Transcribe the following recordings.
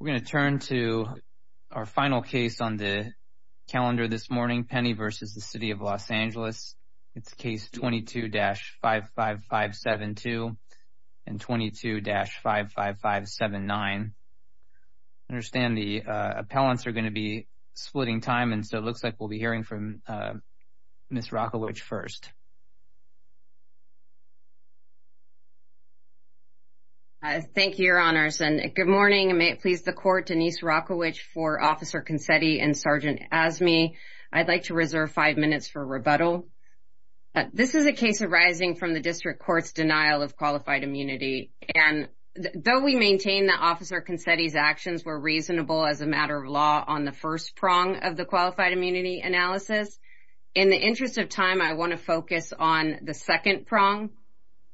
We're going to turn to our final case on the calendar this morning, Penny v. City of Los Angeles. It's Case 22-55572 and 22-55579. I understand the appellants are going to be splitting time, and so it looks like we'll be hearing from Ms. Rockowicz first. Thank you, Your Honors, and good morning. May it please the Court, Denise Rockowicz for Officer Consetti and Sergeant Azmi. I'd like to reserve five minutes for rebuttal. This is a case arising from the district court's denial of qualified immunity, and though we maintain that Officer Consetti's actions were reasonable as a matter of law on the first prong of the qualified immunity analysis, in the interest of time, I want to focus on the second prong.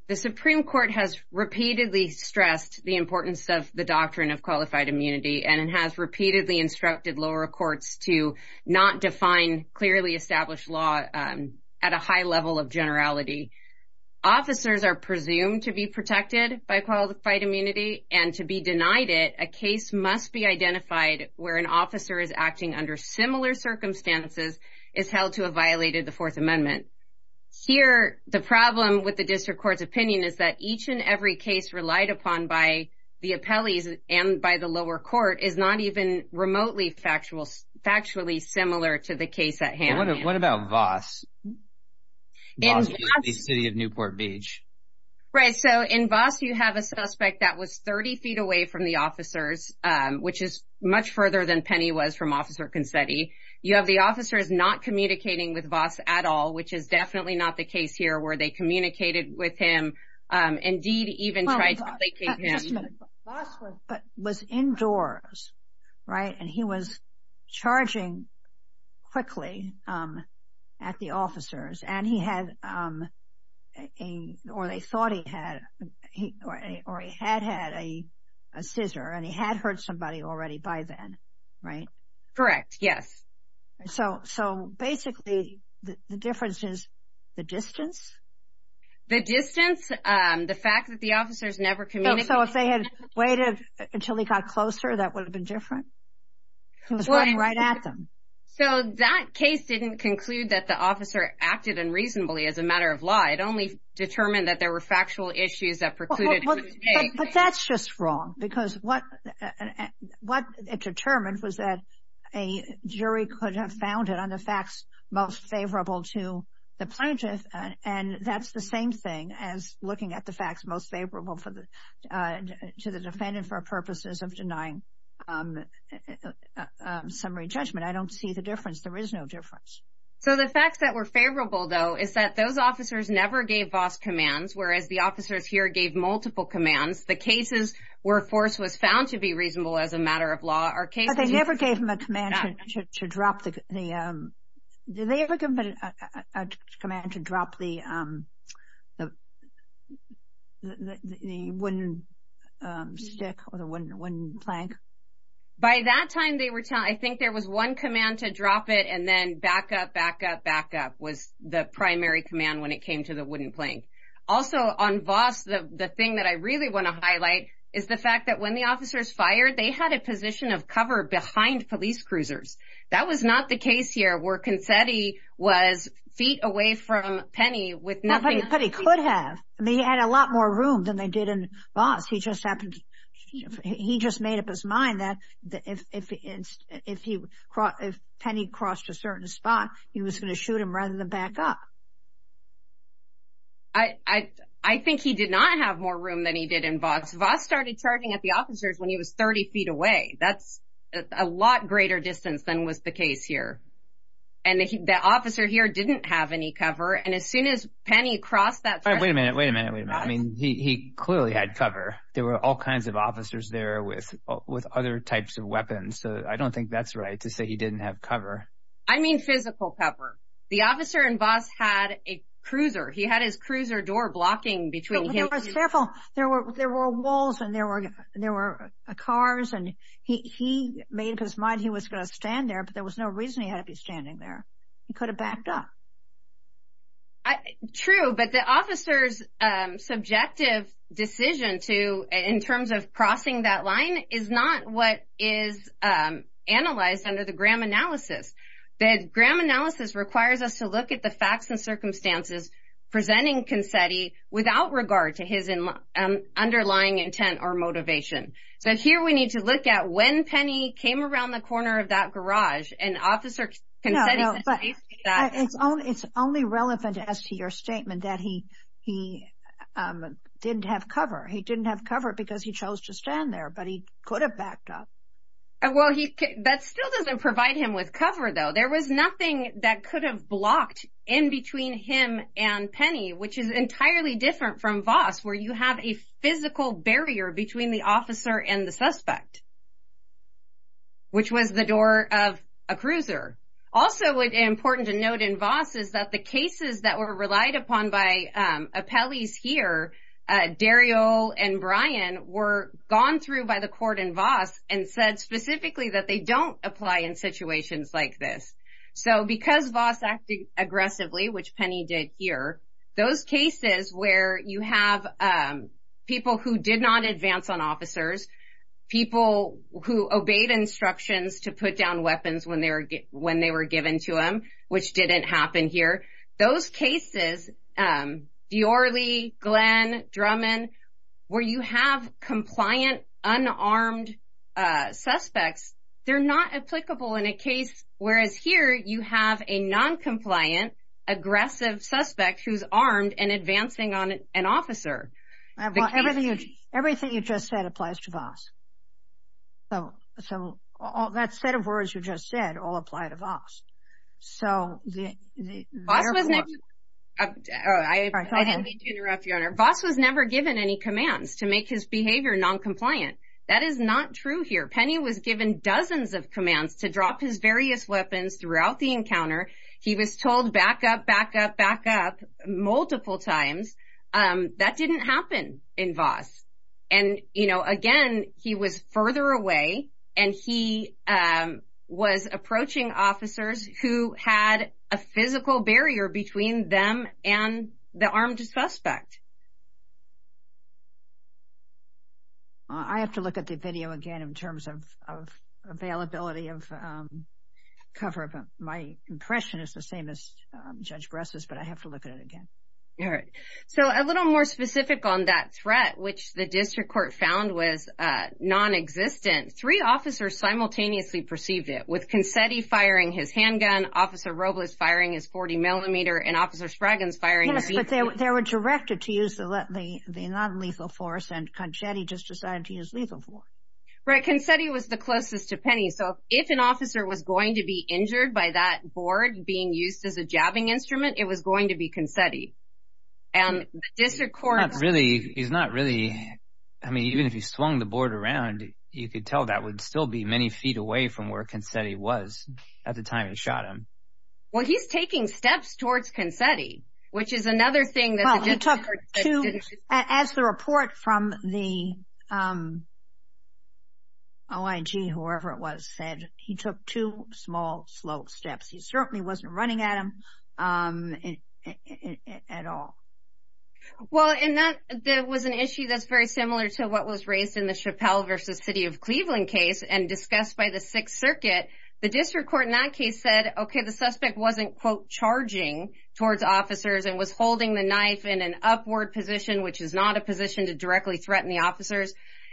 The Supreme Court has repeatedly stressed the importance of the doctrine of qualified immunity, and it has repeatedly instructed lower courts to not define clearly established law at a high level of generality. Officers are presumed to be protected by qualified immunity, and to be denied it, a case must be identified where an officer is acting under similar circumstances is held to have violated the Fourth Amendment. Here, the problem with the district court's opinion is that each and every case relied upon by the appellees and by the lower court is not even remotely factually similar to the case at hand. What about Voss? Voss is the city of Newport Beach. Right, so in Voss, you have a suspect that was 30 feet away from the officers, which is much further than Penny was from Officer Consetti. You have the officers not communicating with Voss at all, which is definitely not the case here, where they communicated with him, indeed even tried to placate him. Just a minute. Voss was indoors, right, and he was charging quickly at the officers, and he had, or they thought he had, or he had had a scissor, and he had hurt somebody already by then, right? Correct, yes. So basically the difference is the distance? The distance, the fact that the officers never communicated. So if they had waited until he got closer, that would have been different? He was running right at them. So that case didn't conclude that the officer acted unreasonably as a matter of law. It only determined that there were factual issues that precluded him from taking. But that's just wrong because what it determined was that a jury could have found it on the facts most favorable to the plaintiff, and that's the same thing as looking at the facts most favorable to the defendant for purposes of denying summary judgment. I don't see the difference. There is no difference. So the facts that were favorable, though, is that those officers never gave Voss commands, whereas the officers here gave multiple commands. The cases where force was found to be reasonable as a matter of law are cases where they never gave him a command to drop the, did they ever give him a command to drop the wooden stick or the wooden plank? By that time, they were telling, I think there was one command to drop it and then back up, back up, back up, was the primary command when it came to the wooden plank. Also, on Voss, the thing that I really want to highlight is the fact that when the officers fired, they had a position of cover behind police cruisers. That was not the case here where Consetti was feet away from Penny with nothing. But he could have. I mean, he had a lot more room than they did in Voss. He just made up his mind that if Penny crossed a certain spot, he was going to shoot him rather than back up. I think he did not have more room than he did in Voss. Voss started charging at the officers when he was 30 feet away. That's a lot greater distance than was the case here. And the officer here didn't have any cover. And as soon as Penny crossed that threshold. Wait a minute. Wait a minute. I mean, he clearly had cover. There were all kinds of officers there with other types of weapons. So I don't think that's right to say he didn't have cover. I mean physical cover. The officer in Voss had a cruiser. He had his cruiser door blocking between him. He was careful. There were walls and there were cars, and he made up his mind he was going to stand there, but there was no reason he had to be standing there. He could have backed up. True, but the officer's subjective decision to, in terms of crossing that line, is not what is analyzed under the Graham analysis. The Graham analysis requires us to look at the facts and circumstances presenting Consetti without regard to his underlying intent or motivation. So here we need to look at when Penny came around the corner of that garage and Officer Consetti said, It's only relevant as to your statement that he didn't have cover. He didn't have cover because he chose to stand there, but he could have backed up. Well, that still doesn't provide him with cover, though. There was nothing that could have blocked in between him and Penny, which is entirely different from Voss, where you have a physical barrier between the officer and the suspect, which was the door of a cruiser. Also important to note in Voss is that the cases that were relied upon by appellees here, Daryl and Brian, were gone through by the court in Voss and said specifically that they don't apply in situations like this. So because Voss acted aggressively, which Penny did here, those cases where you have people who did not advance on officers, people who obeyed instructions to put down weapons when they were given to them, which didn't happen here, those cases, Deorley, Glenn, Drummond, where you have compliant, unarmed suspects, they're not applicable in a case, whereas here you have a noncompliant, aggressive suspect who's armed and advancing on an officer. Everything you just said applies to Voss. So that set of words you just said all apply to Voss. So therefore... I don't mean to interrupt you, Your Honor. Voss was never given any commands to make his behavior noncompliant. That is not true here. Penny was given dozens of commands to drop his various weapons throughout the encounter. He was told back up, back up, back up multiple times. That didn't happen in Voss. And, you know, again, he was further away, and he was approaching officers who had a physical barrier between them and the armed suspect. I have to look at the video again in terms of availability of cover. My impression is the same as Judge Bress's, but I have to look at it again. All right. So a little more specific on that threat, which the district court found was nonexistent, three officers simultaneously perceived it, with Concetti firing his handgun, Officer Robles firing his 40-millimeter, and Officer Spraggins firing his... Yes, but they were directed to use the nonlethal force, and Concetti just decided to use lethal force. Right. Concetti was the closest to Penny. So if an officer was going to be injured by that board being used as a jabbing instrument, it was going to be Concetti. And the district court... Not really. He's not really. I mean, even if he swung the board around, you could tell that would still be many feet away from where Concetti was at the time he shot him. Well, he's taking steps towards Concetti, which is another thing that the district court... As the report from the OIG, whoever it was, said, he took two small, slow steps. He certainly wasn't running at him at all. Well, there was an issue that's very similar to what was raised in the Chappelle v. City of Cleveland case and discussed by the Sixth Circuit. The district court in that case said, okay, the suspect wasn't, quote, towards officers and was holding the knife in an upward position, which is not a position to directly threaten the officers.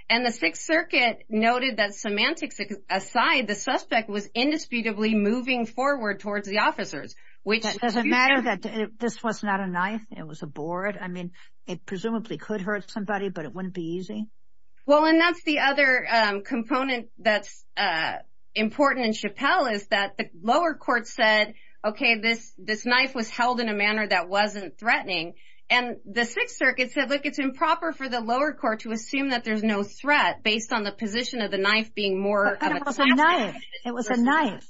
And the Sixth Circuit noted that semantics aside, the suspect was indisputably moving forward towards the officers, which... Does it matter that this was not a knife? It was a board? I mean, it presumably could hurt somebody, but it wouldn't be easy? Well, and that's the other component that's important in Chappelle is that the lower court said, okay, this knife was held in a manner that wasn't threatening. And the Sixth Circuit said, look, it's improper for the lower court to assume that there's no threat based on the position of the knife being more of a task. It was a knife.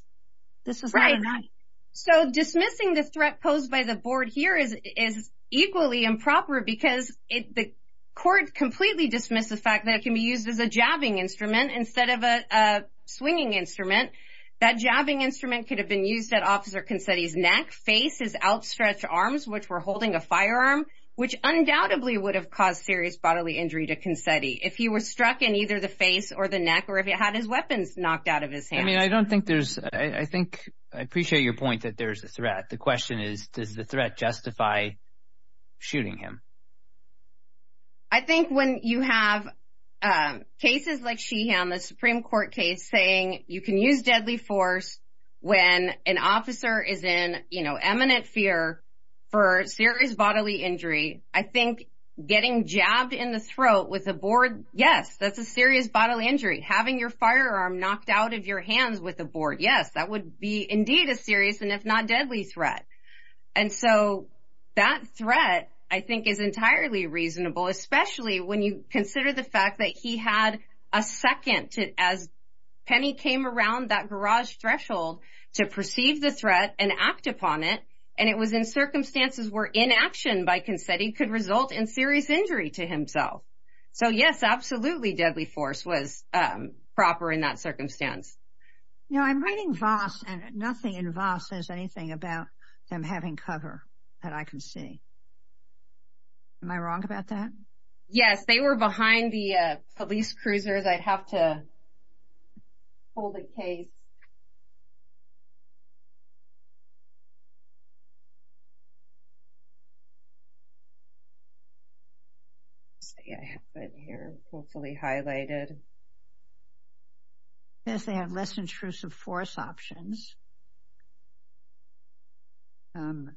This was not a knife. So dismissing the threat posed by the board here is equally improper because the court completely dismissed the fact that it can be used as a jabbing instrument instead of a swinging instrument. That jabbing instrument could have been used at Officer Consetti's neck, face, his outstretched arms, which were holding a firearm, which undoubtedly would have caused serious bodily injury to Consetti if he was struck in either the face or the neck or if he had his weapons knocked out of his hands. I mean, I don't think there's... I think... I appreciate your point that there's a threat. The question is, does the threat justify shooting him? I think when you have cases like Sheehan, the Supreme Court case, saying you can use deadly force when an officer is in, you know, eminent fear for serious bodily injury, I think getting jabbed in the throat with a board, yes, that's a serious bodily injury. Having your firearm knocked out of your hands with a board, yes, that would be indeed a serious and if not deadly threat. And so that threat, I think, is entirely reasonable, especially when you consider the fact that he had a second as Penny came around that garage threshold to perceive the threat and act upon it, and it was in circumstances where inaction by Consetti could result in serious injury to himself. So, yes, absolutely deadly force was proper in that circumstance. You know, I'm reading Voss, and nothing in Voss says anything about them having cover that I can see. Am I wrong about that? Yes, they were behind the police cruisers. I'd have to pull the case. Hopefully highlighted. It says they have less intrusive force options. The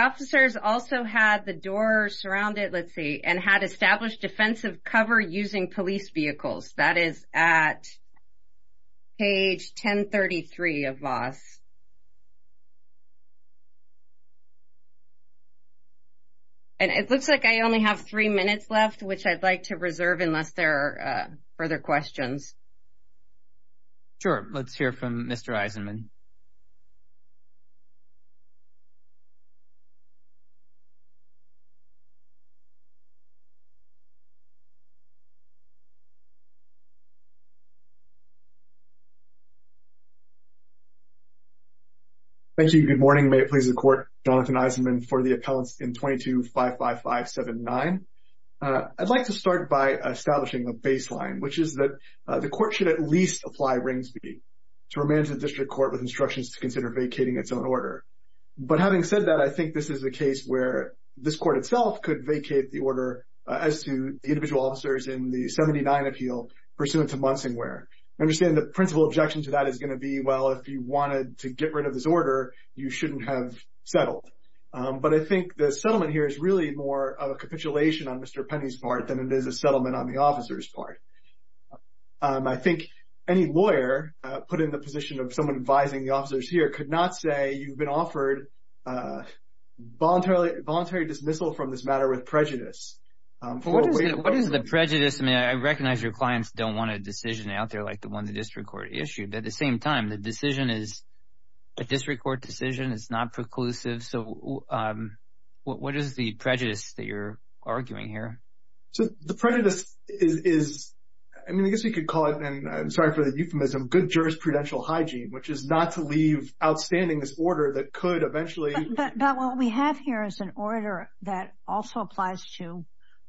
officers also had the doors surrounded, let's see, and had established defensive cover using police vehicles. That is at page 1033 of Voss. And it looks like I only have three minutes left, which I'd like to reserve unless there are further questions. Sure. Let's hear from Mr. Eisenman. Thank you. Good morning. May it please the court, Jonathan Eisenman for the appellants in 22-55579. I'd like to start by establishing a baseline, which is that the court should at least apply ringspeed to remand the district court with instructions to consider vacating its own order. But having said that, I think this is a case where this court itself could vacate the order as to the individual officers in the 79 appeal pursuant to Munsingware. I understand the principal objection to that is going to be, well, if you wanted to get rid of this order, you shouldn't have settled. But I think the settlement here is really more a capitulation on Mr. Penny's part than it is a settlement on the officer's part. I think any lawyer put in the position of someone advising the officers here could not say you've been offered voluntary dismissal from this matter with prejudice. What is the prejudice? I mean, I recognize your clients don't want a decision out there like the one the district court issued. At the same time, the decision is a district court decision. It's not preclusive. So what is the prejudice that you're arguing here? So the prejudice is, I mean, I guess we could call it, and I'm sorry for the euphemism, good jurisprudential hygiene, which is not to leave outstanding this order that could eventually. But what we have here is an order that also applies to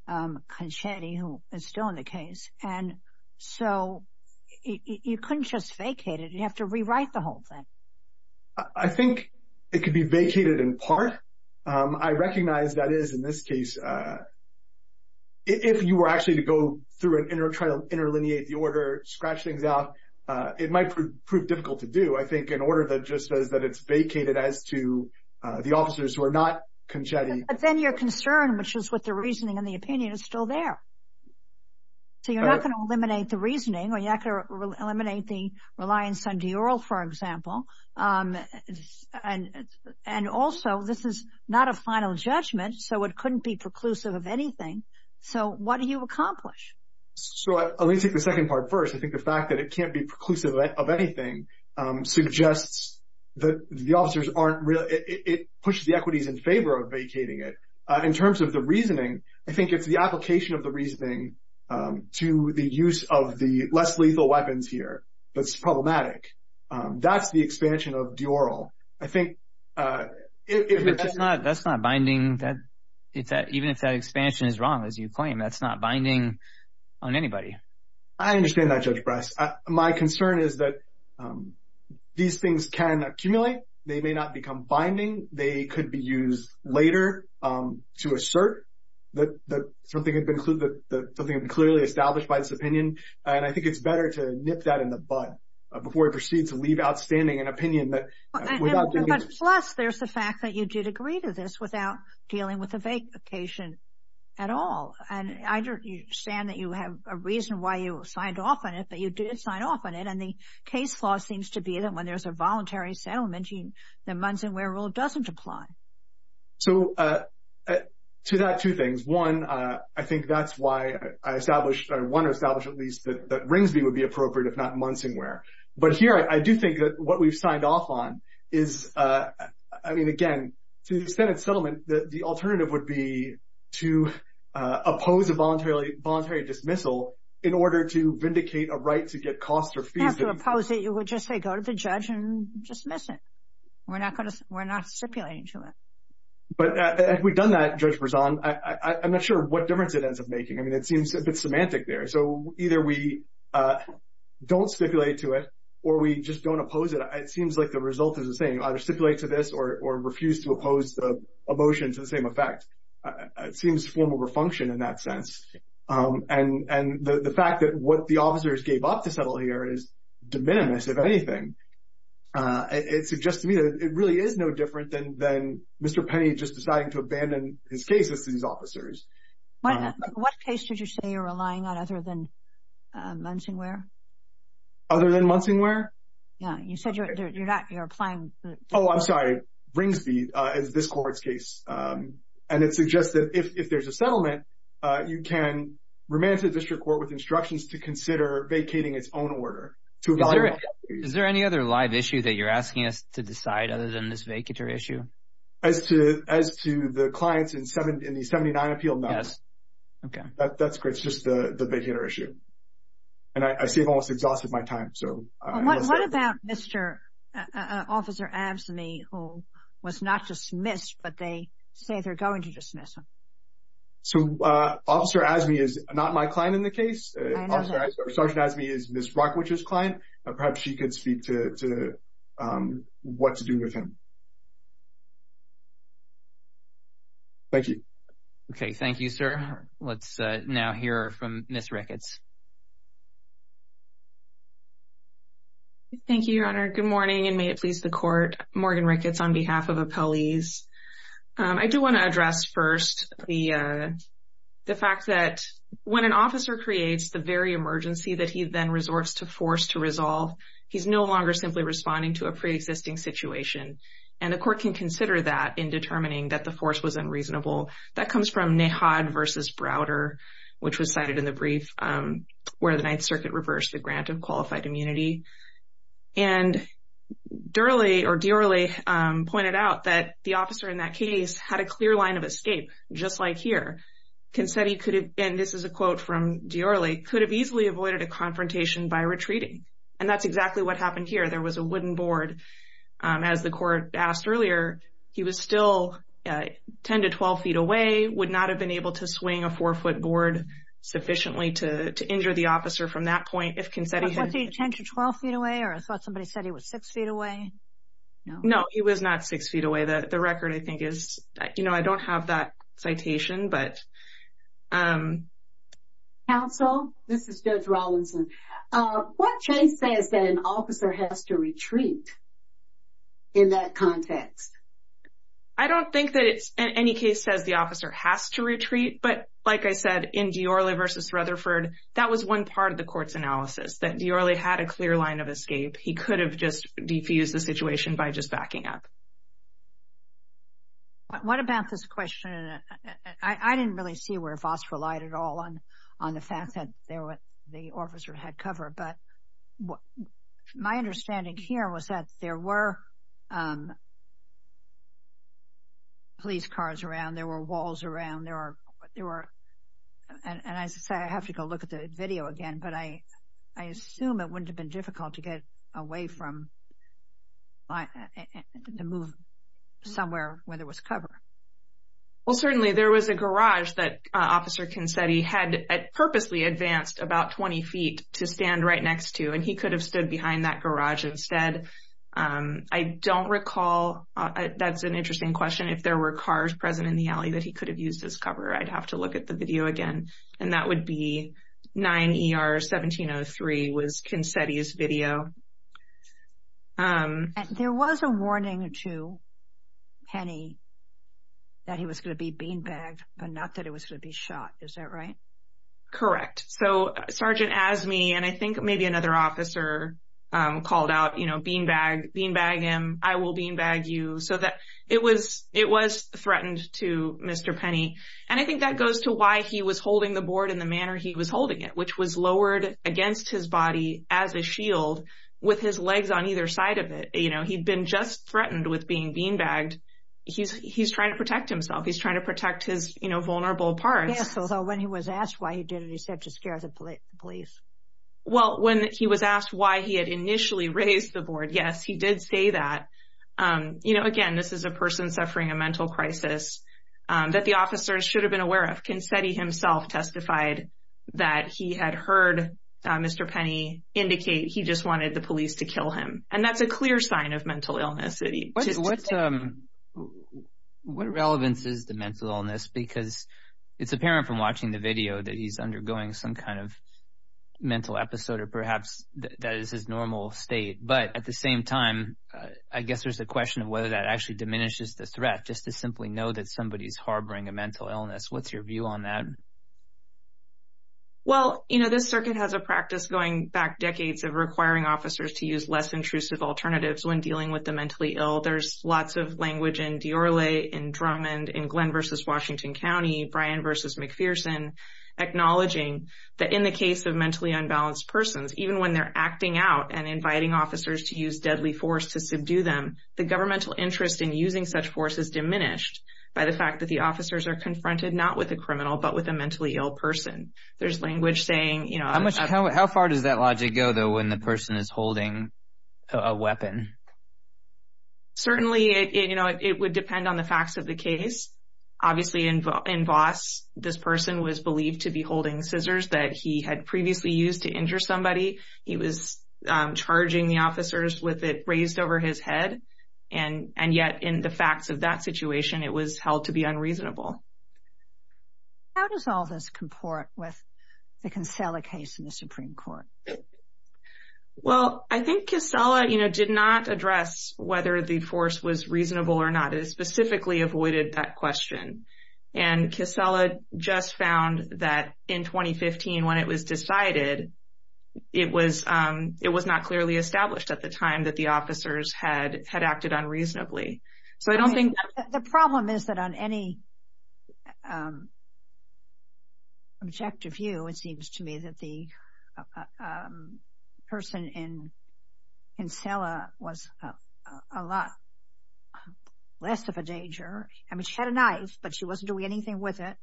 Conchetti, who is still in the case. And so you couldn't just vacate it. You'd have to rewrite the whole thing. I think it could be vacated in part. I recognize that is, in this case, if you were actually to go through and try to interlineate the order, scratch things out, it might prove difficult to do. I think an order that just says that it's vacated as to the officers who are not Conchetti. But then your concern, which is with the reasoning and the opinion, is still there. So you're not going to eliminate the reasoning, or you're not going to eliminate the reliance on Dior, for example. And also, this is not a final judgment, so it couldn't be preclusive of anything. So what do you accomplish? So let me take the second part first. I think the fact that it can't be preclusive of anything suggests that the officers aren't really – it pushes the equities in favor of vacating it. In terms of the reasoning, I think it's the application of the reasoning to the use of the less lethal weapons here that's problematic. That's the expansion of Dior. I think if you're – But that's not binding. Even if that expansion is wrong, as you claim, that's not binding on anybody. I understand that, Judge Bryce. My concern is that these things can accumulate. They may not become binding. They could be used later to assert that something had been clearly established by this opinion. And I think it's better to nip that in the bud before we proceed to leave outstanding an opinion that – But plus there's the fact that you did agree to this without dealing with the vacation at all. And I understand that you have a reason why you signed off on it, but you did sign off on it. And the case law seems to be that when there's a voluntary settlement, the Munsonware rule doesn't apply. So to that, two things. One, I think that's why I established – I want to establish at least that Ringsby would be appropriate, if not Munsonware. But here I do think that what we've signed off on is – The alternative would be to oppose a voluntary dismissal in order to vindicate a right to get costs or fees. You don't have to oppose it. You would just say, go to the judge and dismiss it. We're not stipulating to it. But we've done that, Judge Brezon. I'm not sure what difference it ends up making. I mean, it seems a bit semantic there. So either we don't stipulate to it or we just don't oppose it. It seems like the result is the same. You either stipulate to this or refuse to oppose the motion to the same effect. It seems formal refunction in that sense. And the fact that what the officers gave up to settle here is de minimis, if anything. It suggests to me that it really is no different than Mr. Penny just deciding to abandon his cases to these officers. What case did you say you're relying on other than Munsonware? Other than Munsonware? Yeah, you said you're applying the court. Oh, I'm sorry. Bringsby is this court's case. And it suggests that if there's a settlement, you can remain to the district court with instructions to consider vacating its own order. Is there any other live issue that you're asking us to decide other than this vacator issue? As to the clients in the 79 appeal? Yes. That's great. It's just the vacator issue. And I see I've almost exhausted my time. What about Mr. Officer Asme, who was not dismissed, but they say they're going to dismiss him? So Officer Asme is not my client in the case. Sergeant Asme is Ms. Brockwich's client. Perhaps she could speak to what to do with him. Thank you. Okay. Thank you, sir. Let's now hear from Ms. Ricketts. Thank you, Your Honor. Good morning, and may it please the court. Morgan Ricketts on behalf of appellees. I do want to address first the fact that when an officer creates the very emergency that he then resorts to force to resolve, he's no longer simply responding to a preexisting situation. And the court can consider that in determining that the force was unreasonable. That comes from Nehod v. Browder, which was cited in the brief where the Ninth Circuit reversed the grant of qualified immunity. And Diorle pointed out that the officer in that case had a clear line of escape, just like here. Concetti could have, and this is a quote from Diorle, could have easily avoided a confrontation by retreating. And that's exactly what happened here. There was a wooden board. And as the court asked earlier, he was still 10 to 12 feet away, would not have been able to swing a four-foot board sufficiently to injure the officer from that point if Concetti had. Was he 10 to 12 feet away, or I thought somebody said he was six feet away? No, he was not six feet away. The record, I think, is, you know, I don't have that citation, but. Counsel, this is Judge Rawlinson. What case says that an officer has to retreat in that context? I don't think that any case says the officer has to retreat. But like I said, in Diorle v. Rutherford, that was one part of the court's analysis, that Diorle had a clear line of escape. He could have just defused the situation by just backing up. What about this question? I didn't really see where Voss relied at all on the fact that the officer had cover. But my understanding here was that there were police cars around. There were walls around. And I have to go look at the video again. But I assume it wouldn't have been difficult to get away from, to move somewhere where there was cover. Well, certainly there was a garage that Officer Concetti had purposely advanced about 20 feet to stand right next to. And he could have stood behind that garage instead. I don't recall. That's an interesting question. If there were cars present in the alley that he could have used as cover, I'd have to look at the video again. And that would be 9 ER 1703 was Concetti's video. There was a warning to Penny that he was going to be beanbagged, but not that he was going to be shot. Is that right? Correct. So Sergeant Azmi and I think maybe another officer called out, you know, beanbag him. I will beanbag you. So it was threatened to Mr. Penny. And I think that goes to why he was holding the board in the manner he was holding it, which was lowered against his body as a shield with his legs on either side of it. You know, he'd been just threatened with being beanbagged. He's trying to protect himself. He's trying to protect his vulnerable parts. So when he was asked why he did it, he said to scare the police. Well, when he was asked why he had initially raised the board, yes, he did say that. You know, again, this is a person suffering a mental crisis that the officers should have been aware of. Concetti himself testified that he had heard Mr. Penny indicate he just wanted the police to kill him. And that's a clear sign of mental illness. What relevance is the mental illness? Because it's apparent from watching the video that he's undergoing some kind of mental episode or perhaps that is his normal state. But at the same time, I guess there's a question of whether that actually diminishes the threat, just to simply know that somebody is harboring a mental illness. What's your view on that? Well, you know, this circuit has a practice going back decades of requiring officers to use less intrusive alternatives when dealing with the mentally ill. There's lots of language in Diorle, in Drummond, in Glenn versus Washington County, Bryan versus McPherson, acknowledging that in the case of mentally unbalanced persons, even when they're acting out and inviting officers to use deadly force to subdue them, the governmental interest in using such force is diminished by the fact that the officers are confronted not with a criminal but with a mentally ill person. There's language saying, you know. How far does that logic go, though, when the person is holding a weapon? Certainly, you know, it would depend on the facts of the case. Obviously, in Voss, this person was believed to be holding scissors that he had previously used to injure somebody. He was charging the officers with it raised over his head. And yet, in the facts of that situation, it was held to be unreasonable. How does all this comport with the Casella case in the Supreme Court? Well, I think Casella, you know, did not address whether the force was reasonable or not. It specifically avoided that question. And Casella just found that in 2015, when it was decided, it was not clearly established at the time that the officers had acted unreasonably. The problem is that on any objective view, it seems to me that the person in Casella was a lot less of a danger. I mean, she had a knife, but she wasn't doing anything with it.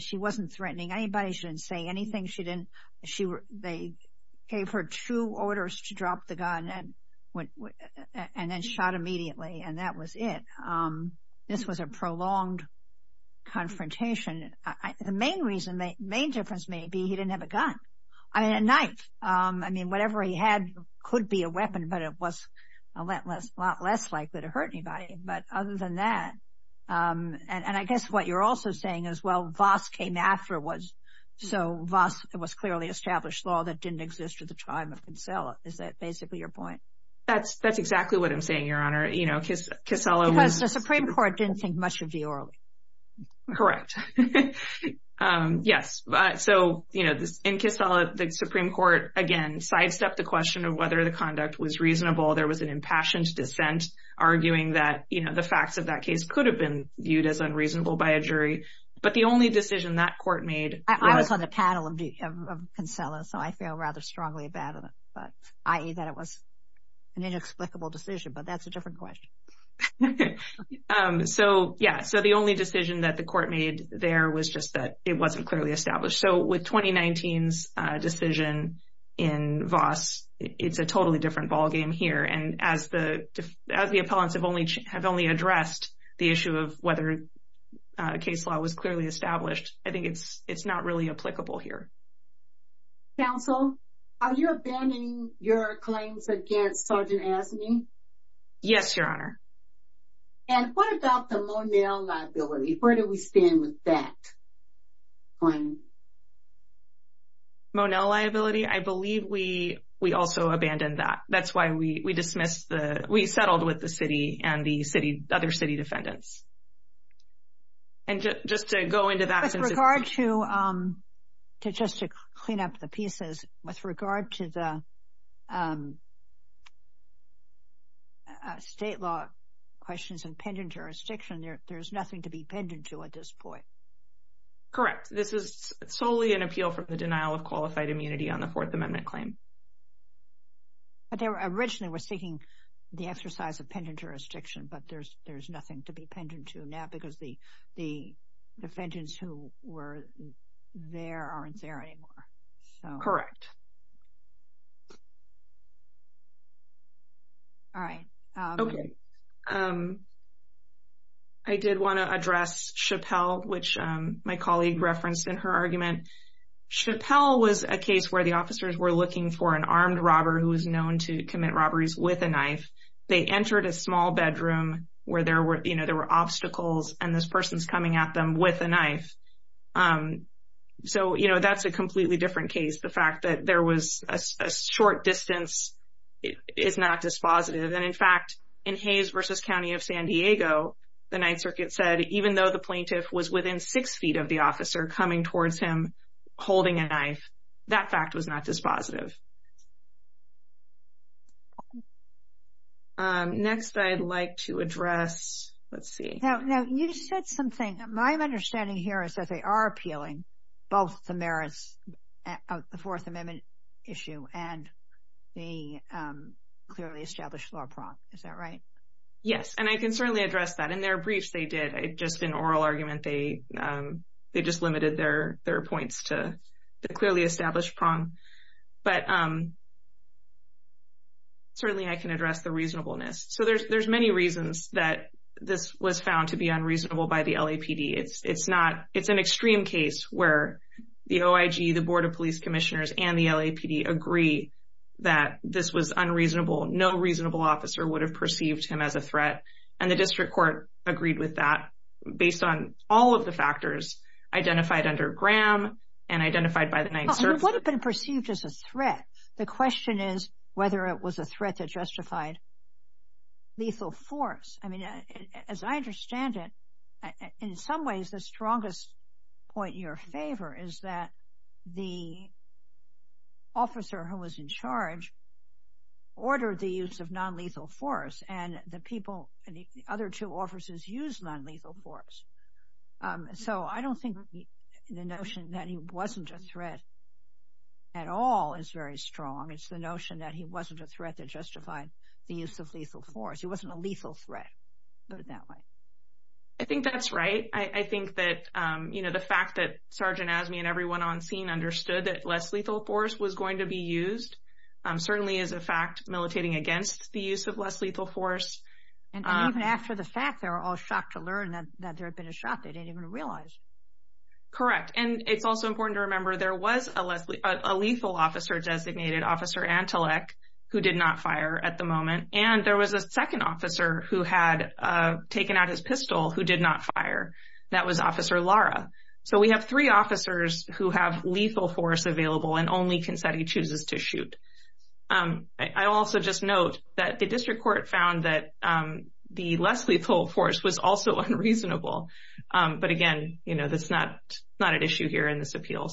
She wasn't threatening anybody. She didn't say anything. They gave her two orders to drop the gun and then shot immediately, and that was it. This was a prolonged confrontation. The main reason, the main difference may be he didn't have a gun. I mean, a knife. I mean, whatever he had could be a weapon, but it was a lot less likely to hurt anybody. But other than that, and I guess what you're also saying is, well, Voss came after, so Voss was clearly established law that didn't exist at the time of Casella. Is that basically your point? That's exactly what I'm saying, Your Honor. You know, Casella was… Because the Supreme Court didn't think much of you early. Correct. Yes. So, you know, in Casella, the Supreme Court, again, sidestepped the question of whether the conduct was reasonable. There was an impassioned dissent arguing that, you know, the facts of that case could have been viewed as unreasonable by a jury. But the only decision that court made… I was on the panel of Casella, so I feel rather strongly about it, i.e. that it was an inexplicable decision. But that's a different question. So, yeah, so the only decision that the court made there was just that it wasn't clearly established. So with 2019's decision in Voss, it's a totally different ballgame here. And as the appellants have only addressed the issue of whether case law was clearly established, I think it's not really applicable here. Counsel, are you abandoning your claims against Sergeant Asney? Yes, Your Honor. And what about the Monell liability? Where do we stand with that claim? Monell liability? I believe we also abandoned that. That's why we dismissed the — we settled with the city and the other city defendants. And just to go into that… With regard to — just to clean up the pieces, with regard to the state law questions and pending jurisdiction, there's nothing to be pending to at this point. Correct. This is solely an appeal for the denial of qualified immunity on the Fourth Amendment claim. But they originally were seeking the exercise of pending jurisdiction, but there's nothing to be pending to now because the defendants who were there aren't there anymore. Correct. All right. Okay. I did want to address Chappelle, which my colleague referenced in her argument. Chappelle was a case where the officers were looking for an armed robber who was known to commit robberies with a knife. They entered a small bedroom where there were — you know, there were obstacles, and this person's coming at them with a knife. So, you know, that's a completely different case, the fact that there was a short distance is not dispositive. And, in fact, in Hayes v. County of San Diego, the Ninth Circuit said even though the plaintiff was within six feet of the officer coming towards him holding a knife, that fact was not dispositive. Next, I'd like to address — let's see. Now, you said something. My understanding here is that they are appealing both the merits of the Fourth Amendment issue and the clearly established law prong. Is that right? Yes, and I can certainly address that. In their briefs, they did. Just in oral argument, they just limited their points to the clearly established prong. But certainly, I can address the reasonableness. So there's many reasons that this was found to be unreasonable by the LAPD. It's not — it's an extreme case where the OIG, the Board of Police Commissioners, and the LAPD agree that this was unreasonable. No reasonable officer would have perceived him as a threat. And the district court agreed with that based on all of the factors identified under Graham and identified by the Ninth Circuit. He would have been perceived as a threat. The question is whether it was a threat that justified lethal force. I mean, as I understand it, in some ways, the strongest point in your favor is that the officer who was in charge ordered the use of nonlethal force. And the people — the other two officers used nonlethal force. So I don't think the notion that he wasn't a threat at all is very strong. It's the notion that he wasn't a threat that justified the use of lethal force. He wasn't a lethal threat, put it that way. I think that's right. I think that, you know, the fact that Sergeant Azmi and everyone on scene understood that less lethal force was going to be used certainly is a fact, militating against the use of less lethal force. And even after the fact, they were all shocked to learn that there had been a shot they didn't even realize. Correct. And it's also important to remember there was a lethal officer designated, Officer Antelec, who did not fire at the moment. And there was a second officer who had taken out his pistol who did not fire. That was Officer Lara. So we have three officers who have lethal force available and only can say he chooses to shoot. I also just note that the district court found that the less lethal force was also unreasonable. But again, you know, that's not an issue here in this appeal.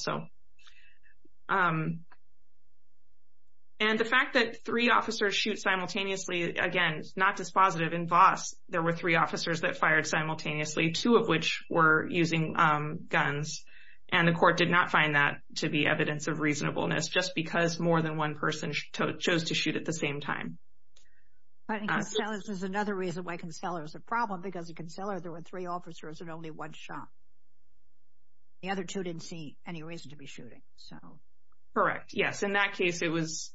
And the fact that three officers shoot simultaneously, again, it's not dispositive. In Voss, there were three officers that fired simultaneously, two of which were using guns. And the court did not find that to be evidence of reasonableness just because more than one person chose to shoot at the same time. But in Consellas, there's another reason why Consellas is a problem, because in Consellas, there were three officers and only one shot. The other two didn't see any reason to be shooting. Correct. Yes. In that case, it was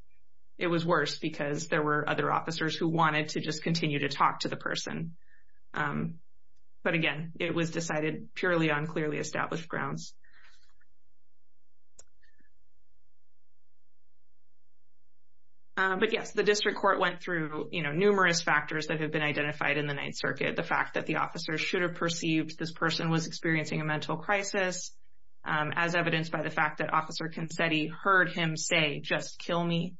worse because there were other officers who wanted to just continue to talk to the person. But again, it was decided purely on clearly established grounds. But yes, the district court went through, you know, numerous factors that have been identified in the Ninth Circuit. The fact that the officer should have perceived this person was experiencing a mental crisis, as evidenced by the fact that Officer Consetti heard him say, just kill me.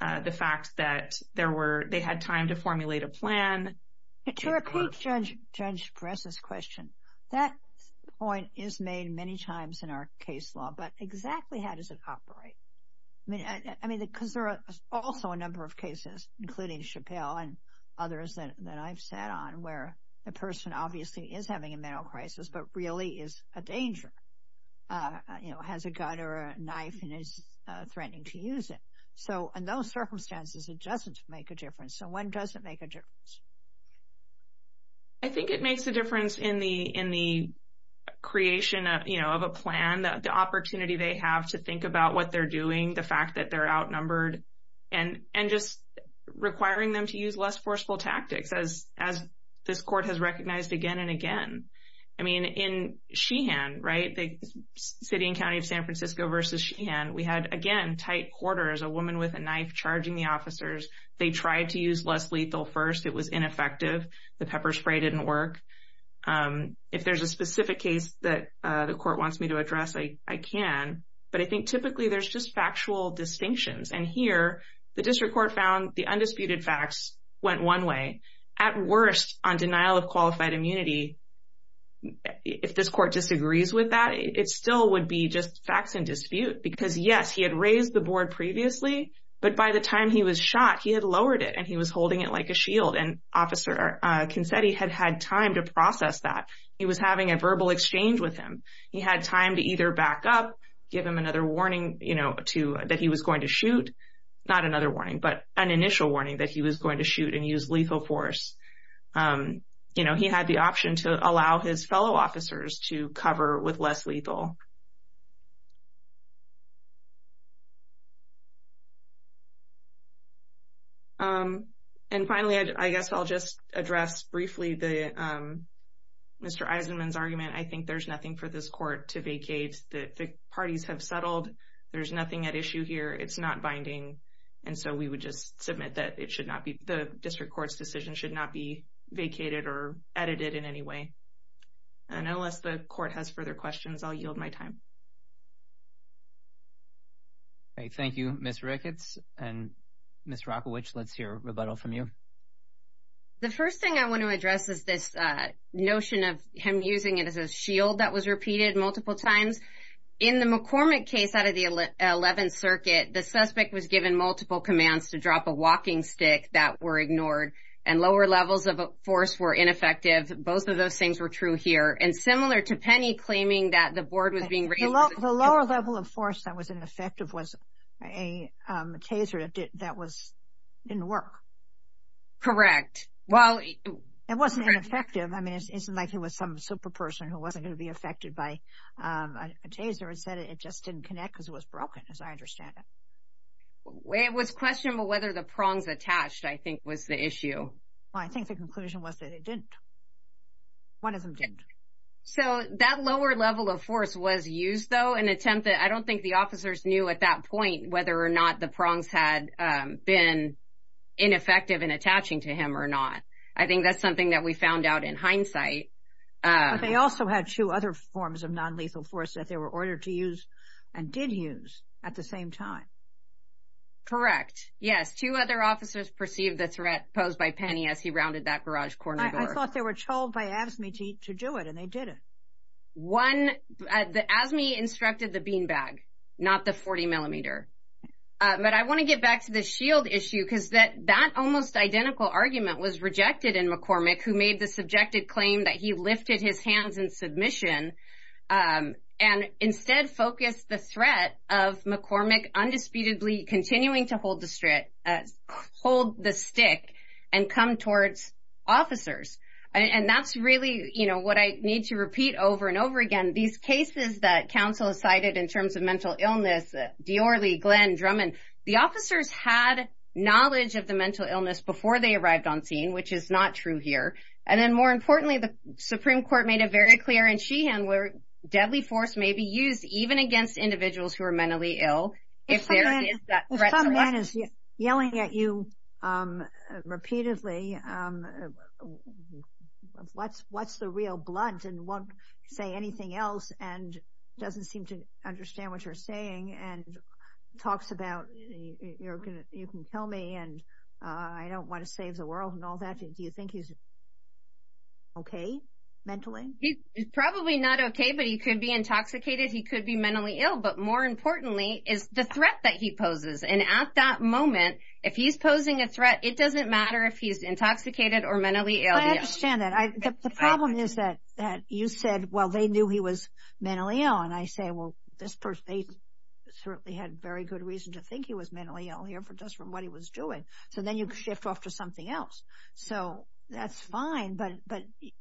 The fact that they had time to formulate a plan. To repeat Judge Perez's question, that point is made many times in our case law, but exactly how does it operate? I mean, because there are also a number of cases, including Chappelle and others that I've sat on, where a person obviously is having a mental crisis but really is a danger, you know, has a gun or a knife and is threatening to use it. So in those circumstances, it doesn't make a difference. So when does it make a difference? I think it makes a difference in the creation, you know, of a plan. The opportunity they have to think about what they're doing. The fact that they're outnumbered. And just requiring them to use less forceful tactics, as this court has recognized again and again. I mean, in Sheehan, right, the city and county of San Francisco versus Sheehan, we had, again, tight quarters. A woman with a knife charging the officers. They tried to use less lethal first. It was ineffective. The pepper spray didn't work. If there's a specific case that the court wants me to address, I can. But I think typically there's just factual distinctions. And here, the district court found the undisputed facts went one way. At worst, on denial of qualified immunity, if this court disagrees with that, it still would be just facts in dispute. Because, yes, he had raised the board previously. But by the time he was shot, he had lowered it. And he was holding it like a shield. And Officer Kinsetti had had time to process that. He was having a verbal exchange with him. He had time to either back up, give him another warning, you know, that he was going to shoot. Not another warning, but an initial warning that he was going to shoot and use lethal force. You know, he had the option to allow his fellow officers to cover with less lethal. And finally, I guess I'll just address briefly Mr. Eisenman's argument. I think there's nothing for this court to vacate. The parties have settled. There's nothing at issue here. It's not binding. And so we would just submit that it should not be the district court's decision should not be vacated or edited in any way. And unless the court has further questions, I'll yield my time. Thank you, Ms. Ricketts. And Ms. Rockowitz, let's hear a rebuttal from you. The first thing I want to address is this notion of him using it as a shield that was repeated multiple times. In the McCormick case out of the 11th Circuit, the suspect was given multiple commands to drop a walking stick that were ignored and lower levels of force were ineffective. Both of those things were true here. And similar to Penny claiming that the board was being raised. The lower level of force that was ineffective was a taser that didn't work. Correct. It wasn't ineffective. I mean, it isn't like he was some super person who wasn't going to be affected by a taser and said it just didn't connect because it was broken, as I understand it. It was questionable whether the prongs attached, I think, was the issue. Well, I think the conclusion was that it didn't. One of them didn't. So that lower level of force was used, though, in an attempt that I don't think the officers knew at that point whether or not the prongs had been ineffective in attaching to him or not. I think that's something that we found out in hindsight. But they also had two other forms of nonlethal force that they were ordered to use and did use at the same time. Correct. Yes, two other officers perceived the threat posed by Penny as he rounded that garage corner door. I thought they were told by ASME to do it, and they did it. One, ASME instructed the beanbag, not the 40 millimeter. But I want to get back to the shield issue because that almost identical argument was rejected in McCormick, who made the subjected claim that he lifted his hands in submission and instead focused the threat of McCormick undisputedly continuing to hold the stick and come towards officers. And that's really what I need to repeat over and over again. These cases that counsel cited in terms of mental illness, Dior, Lee, Glenn, Drummond, the officers had knowledge of the mental illness before they arrived on scene, which is not true here. And then, more importantly, the Supreme Court made it very clear in Sheehan where deadly force may be used, even against individuals who are mentally ill, if there is that threat. One man is yelling at you repeatedly, what's the real blunt, and won't say anything else, and doesn't seem to understand what you're saying, and talks about you can kill me, and I don't want to save the world and all that. Do you think he's okay mentally? He's probably not okay, but he could be intoxicated. He could be mentally ill, but more importantly is the threat that he poses. And at that moment, if he's posing a threat, it doesn't matter if he's intoxicated or mentally ill. I understand that. The problem is that you said, well, they knew he was mentally ill. And I say, well, this person certainly had very good reason to think he was mentally ill here just from what he was doing. So then you shift off to something else. So that's fine, but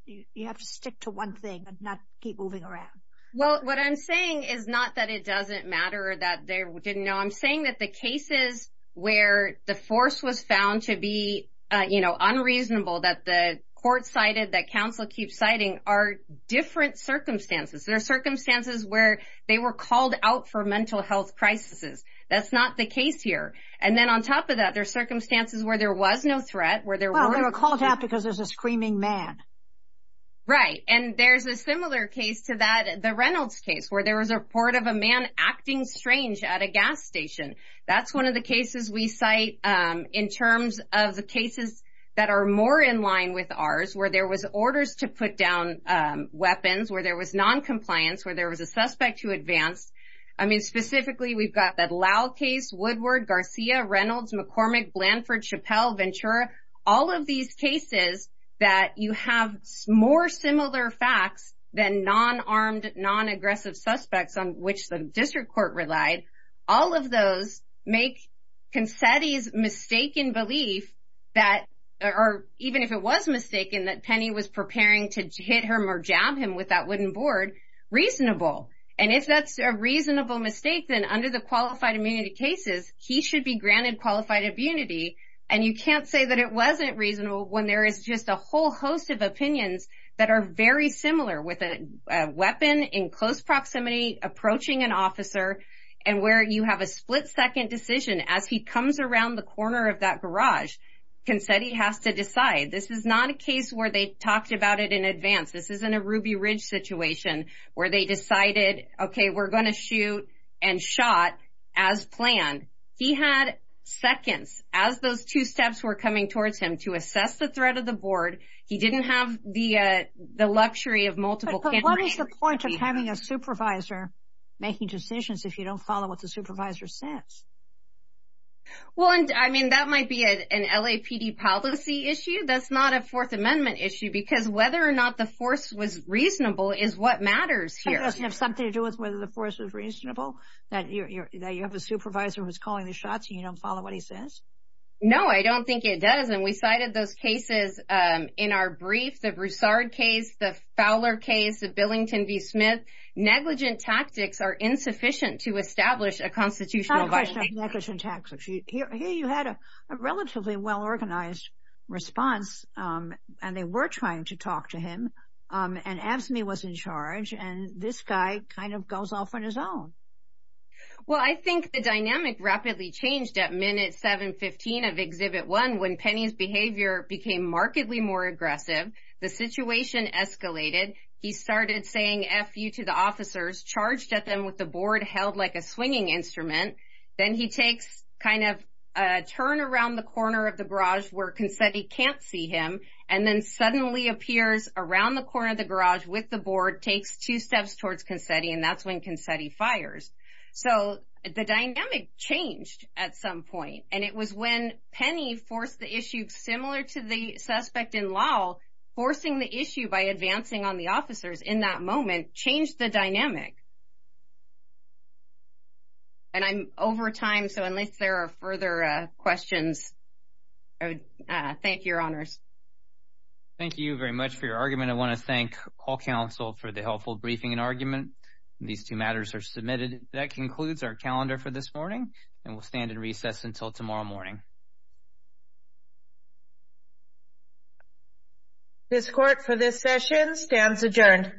you have to stick to one thing and not keep moving around. Well, what I'm saying is not that it doesn't matter or that they didn't know. I'm saying that the cases where the force was found to be unreasonable, that the court cited, that counsel keeps citing, are different circumstances. There are circumstances where they were called out for mental health crises. That's not the case here. And then on top of that, there are circumstances where there was no threat. Well, they were called out because there's a screaming man. Right. And there's a similar case to that, the Reynolds case, where there was a report of a man acting strange at a gas station. That's one of the cases we cite in terms of the cases that are more in line with ours, where there was orders to put down weapons, where there was noncompliance, where there was a suspect who advanced. I mean, specifically we've got that Lau case, Woodward, Garcia, Reynolds, McCormick, Blanford, Chappelle, Ventura. All of these cases that you have more similar facts than non-armed, non-aggressive suspects on which the district court relied, all of those make Concetti's mistaken belief that, or even if it was mistaken, that Penny was preparing to hit him or jab him with that wooden board reasonable. And if that's a reasonable mistake, then under the qualified immunity cases, he should be granted qualified immunity. And you can't say that it wasn't reasonable when there is just a whole host of opinions that are very similar with a weapon in close proximity approaching an officer and where you have a split-second decision as he comes around the corner of that garage. Concetti has to decide. This is not a case where they talked about it in advance. This isn't a Ruby Ridge situation where they decided, okay, we're going to shoot and shot as planned. He had seconds as those two steps were coming towards him to assess the threat of the board. He didn't have the luxury of multiple cameras. But what is the point of having a supervisor making decisions if you don't follow what the supervisor says? Well, I mean, that might be an LAPD policy issue. That's not a Fourth Amendment issue, because whether or not the force was reasonable is what matters here. It doesn't have something to do with whether the force was reasonable, that you have a supervisor who's calling the shots and you don't follow what he says? No, I don't think it does, and we cited those cases in our brief, the Broussard case, the Fowler case, the Billington v. Smith. Negligent tactics are insufficient to establish a constitutional violation. It's not a question of negligent tactics. Here you had a relatively well-organized response, and they were trying to talk to him, and AFSCME was in charge, and this guy kind of goes off on his own. Well, I think the dynamic rapidly changed at minute 715 of Exhibit 1 when Penny's behavior became markedly more aggressive. The situation escalated. He started saying F you to the officers, charged at them with the board, held like a swinging instrument. Then he takes kind of a turn around the corner of the garage where Consetti can't see him and then suddenly appears around the corner of the garage with the board, takes two steps towards Consetti, and that's when Consetti fires. So the dynamic changed at some point, and it was when Penny forced the issue similar to the suspect in Lowell, forcing the issue by advancing on the officers in that moment changed the dynamic. And I'm over time, so unless there are further questions, I would thank your honors. Thank you very much for your argument. Again, I want to thank all counsel for the helpful briefing and argument. These two matters are submitted. That concludes our calendar for this morning, and we'll stand in recess until tomorrow morning. This court for this session stands adjourned. Recess